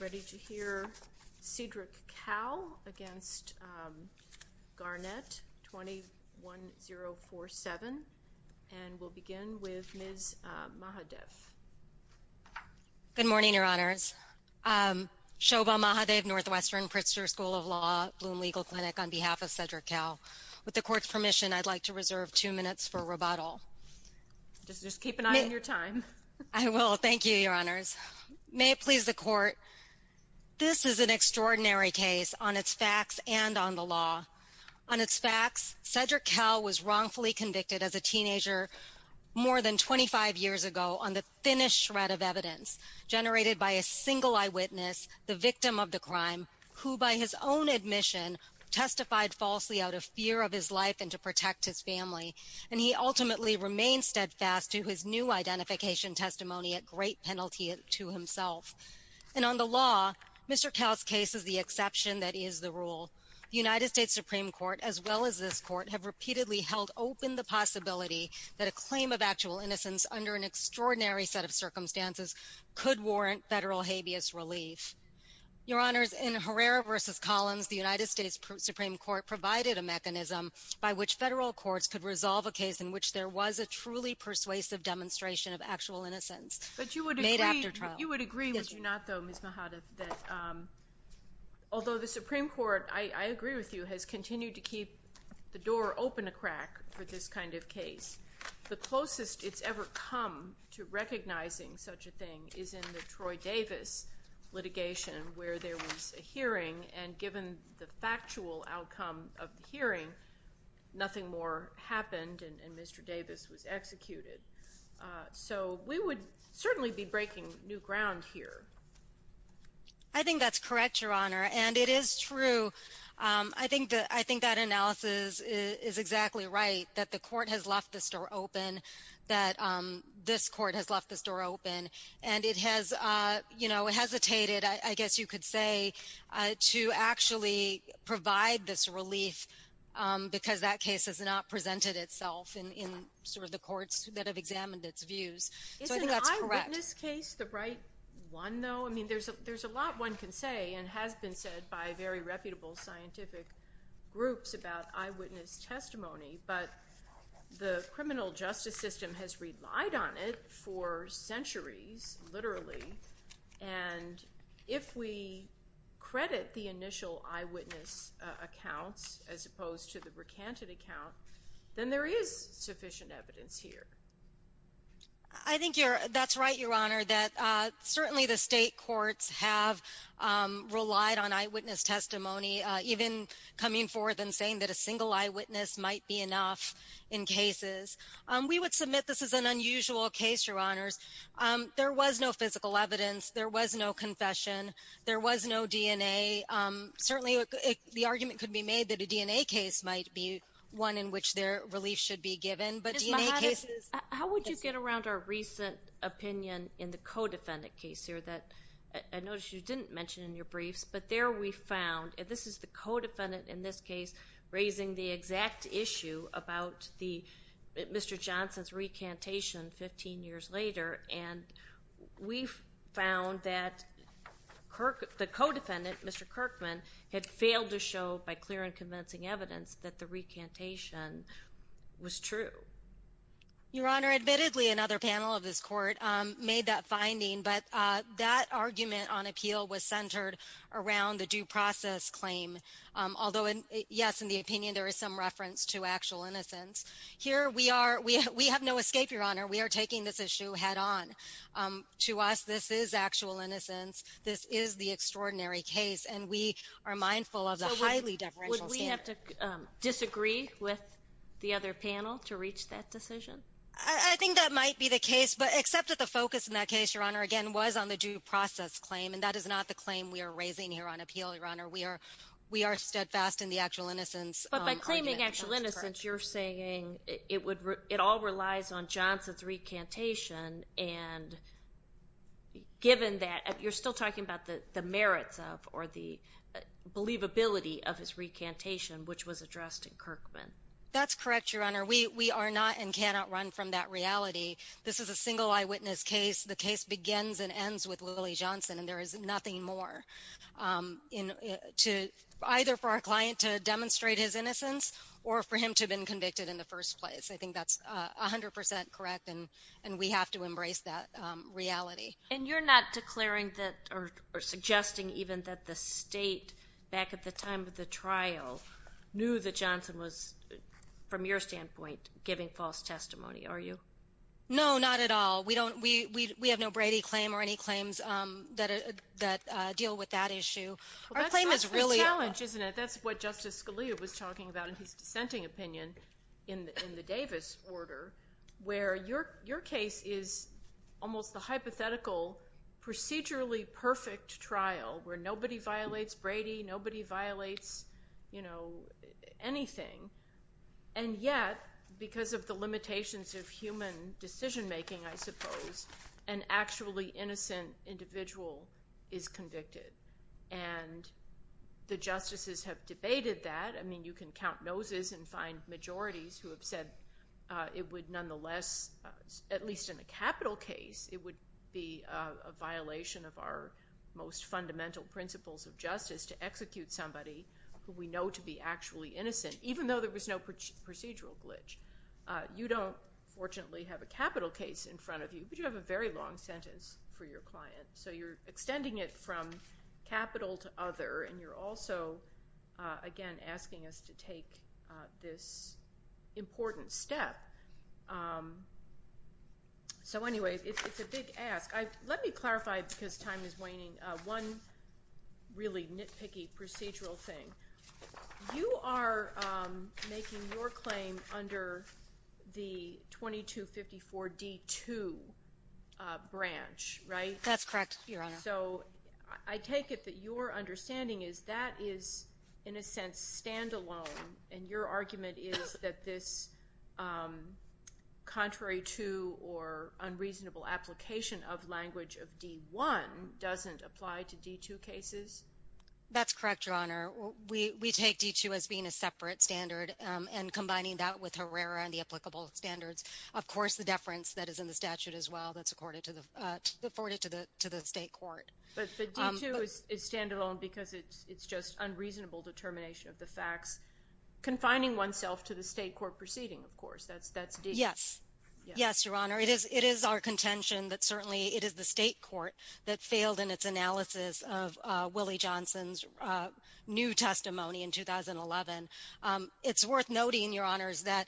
ready to hear Cedric Cowell against Garnett 21047 and we'll begin with Ms. Mahadev. Good morning, Your Honors. Shoba Mahadev, Northwestern Pritzker School of Law, Bloom Legal Clinic, on behalf of Cedric Cowell. With the Court's permission, I'd like to reserve two minutes for rebuttal. Just keep an eye on your time. I will. Thank you, Your Honors. May it please the Court, this is an extraordinary case on its facts and on the law. On its facts, Cedric Cowell was wrongfully convicted as a teenager more than 25 years ago on the thinnest shred of evidence generated by a single eyewitness, the victim of the crime, who by his own admission testified falsely out of fear of his life and to protect his family, and he ultimately remained steadfast to his new identification testimony at great penalty to himself. And on the law, Mr. Cowell's case is the exception that is the rule. The United States Supreme Court, as well as this Court, have repeatedly held open the possibility that a claim of actual innocence under an extraordinary set of circumstances could warrant federal habeas relief. Your Honors, in Herrera v. Collins, the United States Supreme Court provided a truly persuasive demonstration of actual innocence. But you would agree, would you not, though, Ms. Mahadov, that although the Supreme Court, I agree with you, has continued to keep the door open a crack for this kind of case, the closest it's ever come to recognizing such a thing is in the Troy Davis litigation, where there was a hearing, and given the factual outcome of the hearing, nothing more happened, and Mr. Davis was executed. So we would certainly be breaking new ground here. I think that's correct, Your Honor, and it is true. I think that analysis is exactly right, that the Court has left the store open, that this Court has left the store open, and it has, you know, hesitated, I guess you could say, to actually provide this relief, because that case has not presented itself in sort of the courts that have examined its views. Isn't an eyewitness case the right one, though? I mean, there's a lot one can say, and has been said by very reputable scientific groups about eyewitness testimony, but the criminal justice system has relied on it for centuries, literally, and if we credit the initial eyewitness accounts, as opposed to the recanted account, then there is sufficient evidence here. I think you're, that's right, Your Honor, that certainly the state courts have relied on eyewitness testimony, even coming forth and saying that a single eyewitness might be enough in cases. We would submit this is an unusual case, Your Honors. There was no physical evidence, there was no confession, there was no DNA. Certainly the argument could be made that a DNA case might be one in which their relief should be given, but DNA cases... How would you get around our recent opinion in the co-defendant case here, that I noticed you didn't mention in your briefs, but there we found, and this is the co-defendant in this case, raising the exact issue about Mr. Johnson's recantation 15 years later, and we found that the co-defendant, Mr. Kirkman, had failed to show by clear and convincing evidence that the recantation was true. Your Honor, admittedly another panel of this court made that finding, but that argument on appeal was centered around the due process claim, although, yes, in the opinion there is some reference to We have no escape, Your Honor. We are taking this issue head-on. To us, this is actual innocence. This is the extraordinary case, and we are mindful of the highly deferential standard. Would we have to disagree with the other panel to reach that decision? I think that might be the case, but except that the focus in that case, Your Honor, again, was on the due process claim, and that is not the claim we are raising here on appeal, Your Honor. We are steadfast in the actual innocence argument. But by claiming actual innocence, you're saying it all relies on Johnson's recantation, and given that, you're still talking about the merits of, or the believability of his recantation, which was addressed in Kirkman. That's correct, Your Honor. We are not and cannot run from that reality. This is a single eyewitness case. The case begins and ends with Willie Johnson, and there or for him to have been convicted in the first place. I think that's 100% correct, and we have to embrace that reality. And you're not declaring that, or suggesting even, that the state, back at the time of the trial, knew that Johnson was, from your standpoint, giving false testimony, are you? No, not at all. We don't. We have no Brady claim or any claims that deal with that issue. Well, that's the challenge, isn't it? That's what Justice Scalia was talking about in his dissenting opinion in the Davis order, where your case is almost a hypothetical, procedurally perfect trial, where nobody violates Brady, nobody violates anything. And yet, because of the limitations of human decision-making, I suppose, an actually innocent individual is convicted. And the justices have debated that. I mean, you can count noses and find majorities who have said it would nonetheless, at least in a capital case, it would be a violation of our most fundamental principles of justice to execute somebody who we know to be actually innocent, even though there was no procedural glitch. You don't, fortunately, have a capital case in front of you, but you have a very long sentence for your client. So you're extending it from capital to other, and you're also, again, asking us to take this important step. So anyway, it's a big ask. Let me clarify, because time is waning, one really nitpicky procedural thing. You are making your claim under the 2254 D-2 branch, right? That's correct, Your Honor. So I take it that your understanding is that is, in a sense, standalone, and your argument is that this contrary to or unreasonable application of language of D-1 doesn't apply to D-2 cases? That's correct, Your Honor. We take D-2 as being a separate standard, and combining that with Herrera and the applicable standards, of course, the deference that is in the statute as well, that's afforded to the State Court. But D-2 is standalone because it's just unreasonable determination of the facts, confining oneself to the State Court proceeding, of course. That's D-2. Yes. Yes, Your Honor. It is our contention that, certainly, it is the State Court that failed in its analysis of Willie Johnson's new testimony in 2011. It's worth noting, Your Honors, that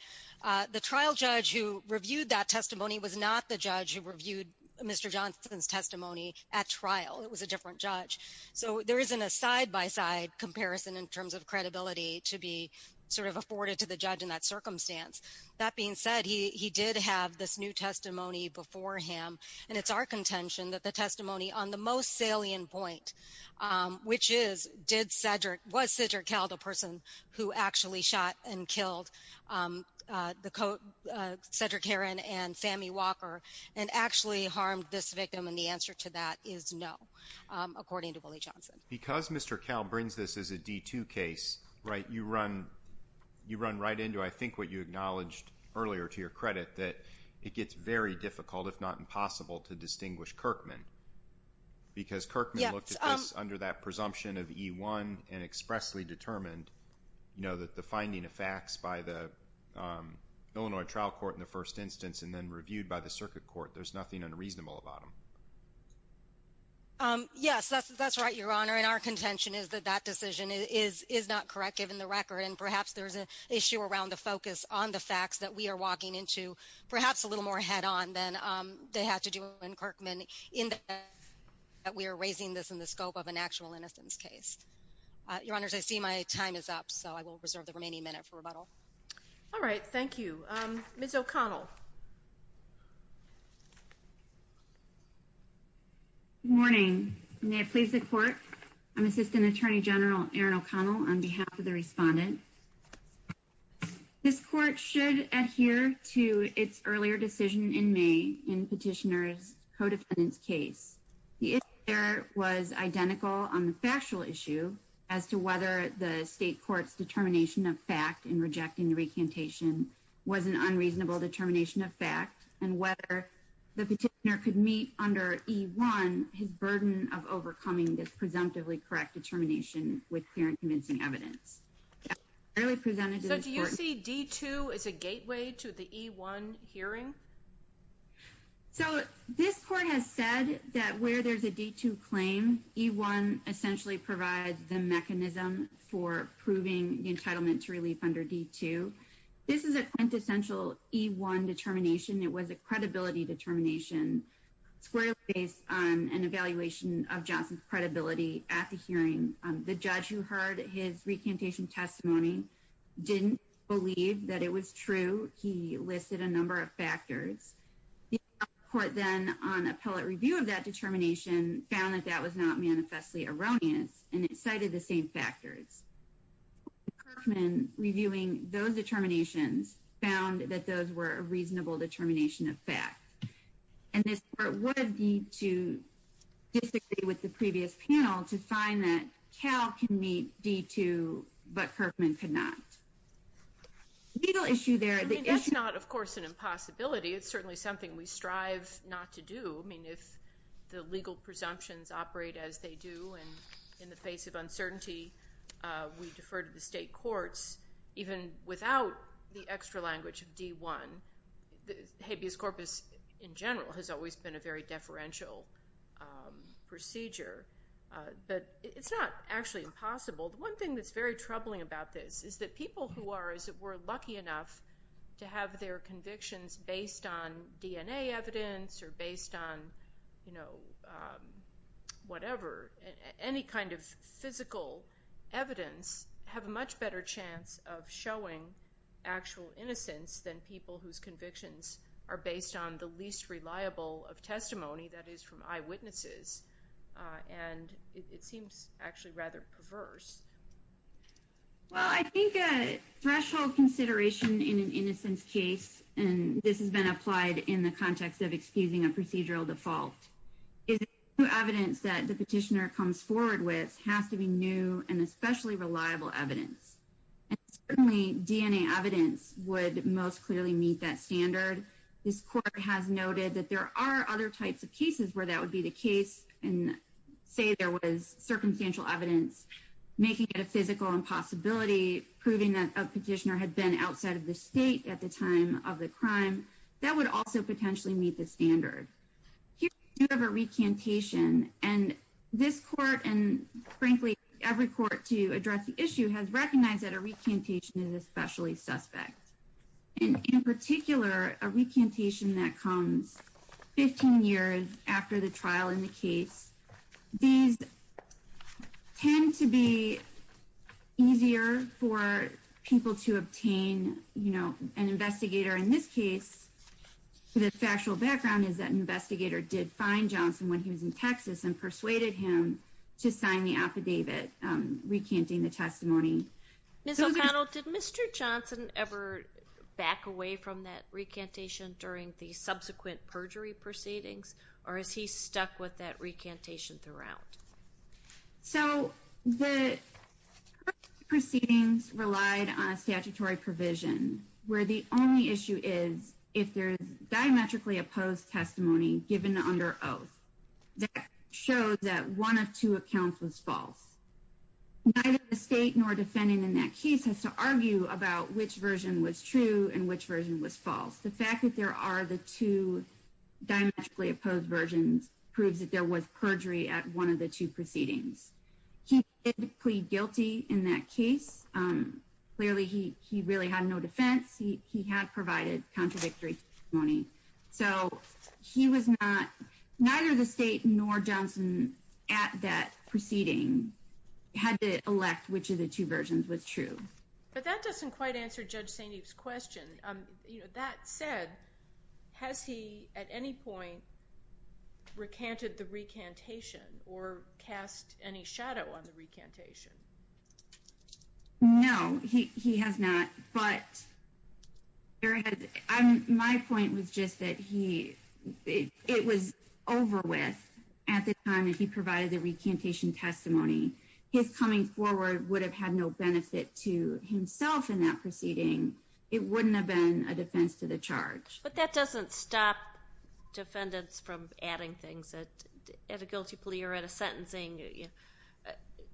the trial judge who reviewed that testimony was not the judge who reviewed Mr. Johnson's testimony at trial. It was a different judge. So there isn't a side-by-side comparison in terms of credibility to be sort of afforded to the judge in that circumstance. That being said, he did have this new testimony before him, and it's our contention that the testimony on the most salient point, which is, did Cedric, Mr. Kell, the person who actually shot and killed Cedric Heron and Sammy Walker and actually harmed this victim? And the answer to that is no, according to Willie Johnson. Because Mr. Kell brings this as a D-2 case, right, you run right into, I think, what you acknowledged earlier to your credit, that it gets very difficult, if not impossible, to distinguish Kirkman. Because Kirkman looked at this under that presumption of E-1 and expressly determined, you know, that the finding of facts by the Illinois trial court in the first instance and then reviewed by the circuit court, there's nothing unreasonable about them. Yes, that's right, Your Honor, and our contention is that that decision is not correct, given the record, and perhaps there's an issue around the focus on the facts that we are walking into, perhaps a little more head-on than they had to do in Kirkman, in that we are raising this in the scope of an actual innocence case. Your Honors, I see my time is up, so I will reserve the remaining minute for rebuttal. All right, thank you. Ms. O'Connell. Good morning. May it please the Court, I'm Assistant Attorney General Erin O'Connell on behalf of the Respondent. This Court should adhere to its earlier decision in May in Petitioner's co-defendant's case. The issue there was identical on the factual issue as to whether the state court's determination of fact in rejecting the recantation was an unreasonable determination of fact, and whether the Petitioner could meet under E-1 his burden of overcoming this presumptively correct determination with clear and convincing evidence. So do you see D-2 as a gateway to the E-1 hearing? So this Court has said that where there's a D-2 claim, E-1 essentially provides the mechanism for proving the entitlement to relief under D-2. This is a quintessential E-1 determination. It was a credibility determination squarely based on an evaluation of Johnson's credibility at the hearing. The judge who heard his recantation testimony didn't believe that it was true. He listed a number of factors. The Court then on appellate review of that was not manifestly erroneous, and it cited the same factors. Kerkman, reviewing those determinations, found that those were a reasonable determination of fact. And this Court would need to disagree with the previous panel to find that Cal can meet D-2, but Kerkman could not. The legal issue there, the issue... I mean, that's not, of course, an impossibility. It's certainly something we strive not to do. I mean, if the courts do as they do, and in the face of uncertainty, we defer to the state courts, even without the extra language of D-1, habeas corpus in general has always been a very deferential procedure. But it's not actually impossible. The one thing that's very troubling about this is that people who are, as it were, lucky enough to have their convictions based on DNA evidence or based on, you know, whatever, any kind of physical evidence, have a much better chance of showing actual innocence than people whose convictions are based on the least reliable of testimony, that is from eyewitnesses. And it seems actually rather perverse. Well, I think a threshold consideration in an innocence case, and this has been applied in the context of excusing a procedural default, is evidence that the petitioner comes forward with has to be new and especially reliable evidence. And certainly, DNA evidence would most clearly meet that standard. This court has noted that there are other types of cases where that would be the case, and say there was circumstantial evidence making it a physical impossibility, proving that a defendant had been outside of the state at the time of the crime, that would also potentially meet the standard. Here we have a recantation, and this court, and frankly every court to address the issue, has recognized that a recantation is especially suspect. And in particular, a recantation that comes 15 years after the trial in the case. These tend to be easier for people to obtain, you know, an investigator. In this case, the factual background is that an investigator did find Johnson when he was in Texas and persuaded him to sign the affidavit recanting the testimony. Ms. O'Connell, did Mr. Johnson ever back away from that proceedings, or is he stuck with that recantation throughout? So, the proceedings relied on a statutory provision where the only issue is if there is diametrically opposed testimony given under oath that shows that one of two accounts was false. Neither the state nor defendant in that case has to argue about which version was true and which version was false. The fact that there are the two diametrically opposed versions proves that there was perjury at one of the two proceedings. He did plead guilty in that case. Clearly, he really had no defense. He had provided contradictory testimony. So, he was not, neither the state nor Johnson at that proceeding had to elect which of the two versions was true. But that doesn't quite answer Judge St. Eve's question. You know, that said, has he at any point recanted the recantation or cast any shadow on the recantation? No, he has not, but my point was just that he, it was over with at the time that he provided the recantation testimony. His coming forward would have had no benefit to himself in that proceeding. It wouldn't have been a charge. But that doesn't stop defendants from adding things that, at a guilty plea or at a sentencing,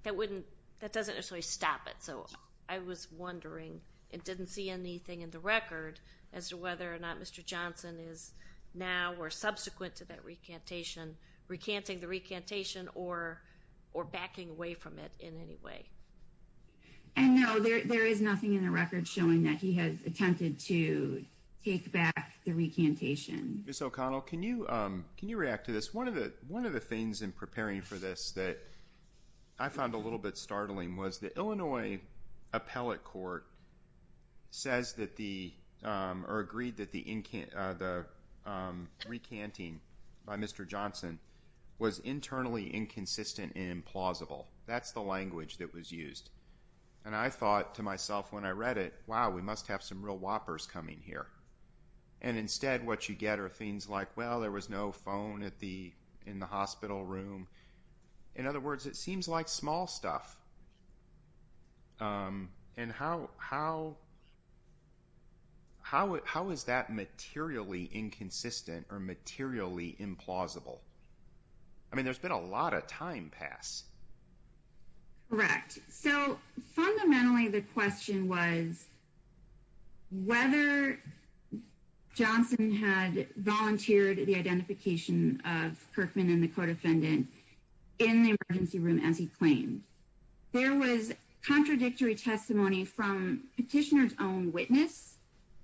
that wouldn't, that doesn't necessarily stop it. So, I was wondering, it didn't see anything in the record as to whether or not Mr. Johnson is now or subsequent to that recantation, recanting the recantation or, or backing away from it in any way. And no, there is nothing in the record showing that he has attempted to take back the recantation. Ms. O'Connell, can you, can you react to this? One of the, one of the things in preparing for this that I found a little bit startling was the Illinois Appellate Court says that the, or agreed that the, the recanting by Mr. Johnson was internally inconsistent and implausible. That's the language that was used. And I thought to myself when I read it, wow, we must have some real whoppers coming here. And instead, what you get are things like, well, there was no phone at the, in the hospital room. In other words, it seems like small stuff. And how, how, how, how is that materially inconsistent or materially implausible? I mean, there's been a lot of time pass. Correct. So fundamentally, the question was whether Johnson had volunteered the identification of Kirkman and the co-defendant in the emergency room as he claimed. There was contradictory testimony from petitioner's own witness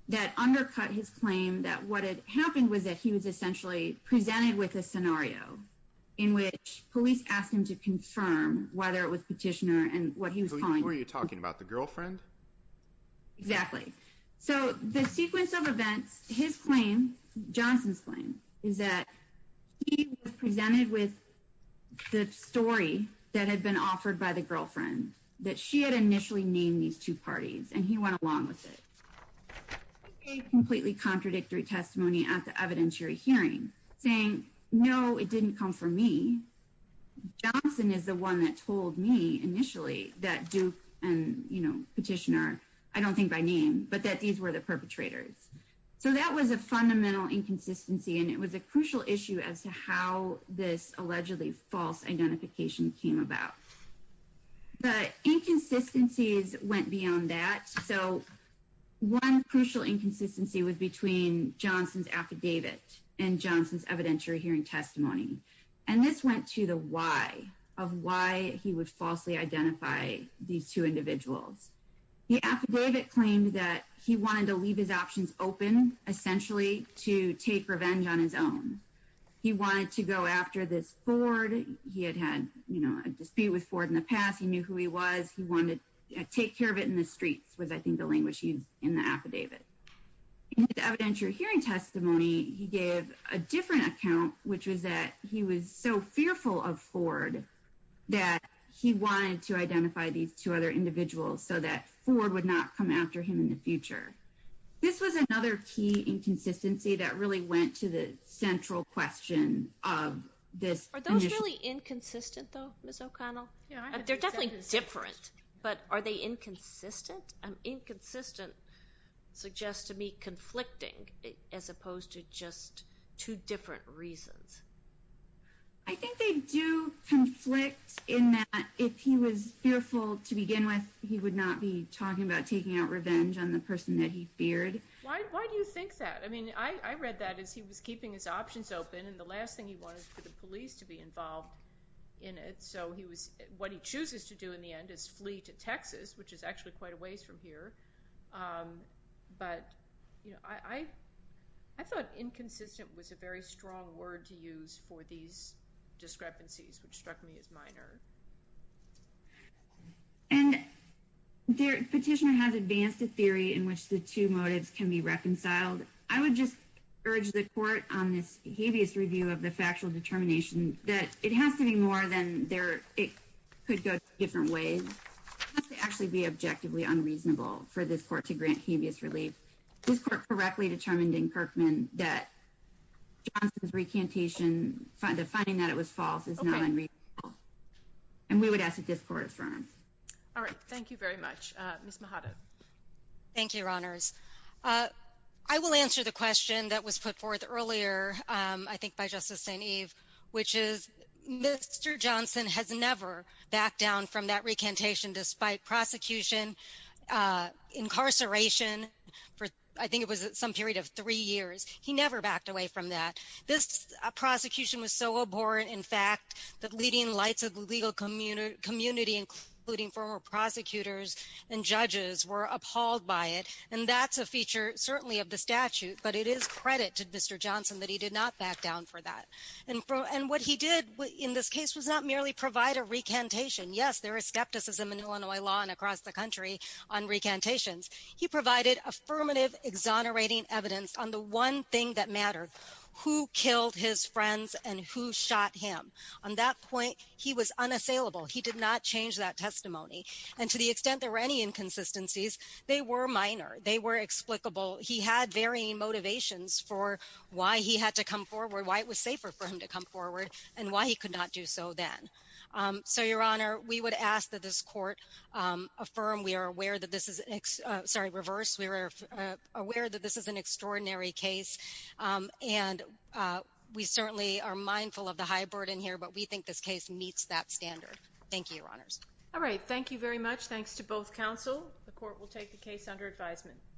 that undercut his claim that what had police asked him to confirm whether it was petitioner and what he was calling. Were you talking about the girlfriend? Exactly. So the sequence of events, his claim, Johnson's claim, is that he was presented with the story that had been offered by the girlfriend that she had initially named these two parties and he went along with it. Completely contradictory testimony at the hearing saying, no, it didn't come from me. Johnson is the one that told me initially that Duke and, you know, petitioner, I don't think by name, but that these were the perpetrators. So that was a fundamental inconsistency and it was a crucial issue as to how this allegedly false identification came about. The inconsistencies went beyond that. So one crucial inconsistency was between Johnson's affidavit and Johnson's evidentiary hearing testimony. And this went to the why of why he would falsely identify these two individuals. The affidavit claimed that he wanted to leave his options open, essentially, to take revenge on his own. He wanted to go after this Ford. He had had, you know, a dispute with Ford in the past. He knew who he was. He wanted to take care of it in the streets was, I think, the language used in the affidavit. In the evidentiary hearing testimony, he gave a different account, which was that he was so fearful of Ford that he wanted to identify these two other individuals so that Ford would not come after him in the future. This was another key inconsistency that really went to the central question of this. Are those really inconsistent, though, Ms. O'Connell? They're definitely different, but are they inconsistent? Inconsistent suggests to me conflicting as opposed to just two different reasons. I think they do conflict in that if he was fearful to begin with, he would not be talking about taking out revenge on the person that he feared. Why do you think that? I mean, I read that as he was keeping his options open and the last thing he wanted for the police to be involved in it. So he was, what he chooses to do in the end is flee to Texas, which is actually quite a ways from here. But, you know, I thought inconsistent was a very strong word to use for these discrepancies, which struck me as minor. And the petitioner has advanced a theory in which the two motives can be reconciled. I would just urge the court on this habeas review of the factual determination that it has to be more than there, it could go different ways. It has to actually be objectively unreasonable for this court to grant habeas relief. This court correctly determined in Kirkman that Johnson's recantation, the finding that it was false is not unreasonable. And we would ask that this court affirm. All right, thank you very much. Ms. Mahada. Thank you, Your Honors. I will answer the question that was put forth earlier, I think, by Justice St. Eve, which is Mr. Johnson has never backed down from that recantation despite prosecution, incarceration for I think it was some period of three years. He never backed away from that. This prosecution was so abhorrent, in fact, that leading lights of the legal community, including former prosecutors and judges, were appalled by it. And that's a feature certainly of the statute. But it is credit to Mr. Johnson that he did not back down for that. And what he did in this case was not merely provide a recantation. Yes, there is skepticism in Illinois law and across the country on recantations. He provided affirmative exonerating evidence on the one thing that mattered, who killed his friends and who shot him. On that point, he was unassailable. He did not change that testimony. And to the extent there were any inconsistencies, they were minor. They were explicable. He had varying motivations for why he had to come forward, why it was safer for him to come forward and why he could not do so then. So, Your Honor, we would ask that this court, um, affirm we are aware that this is sorry, reverse. We were aware that this is an extraordinary case. Um, and, uh, we certainly are mindful of the high standard in here, but we think this case meets that standard. Thank you, Your Honors. All right. Thank you very much. Thanks to both counsel. The court will take the case under advisement.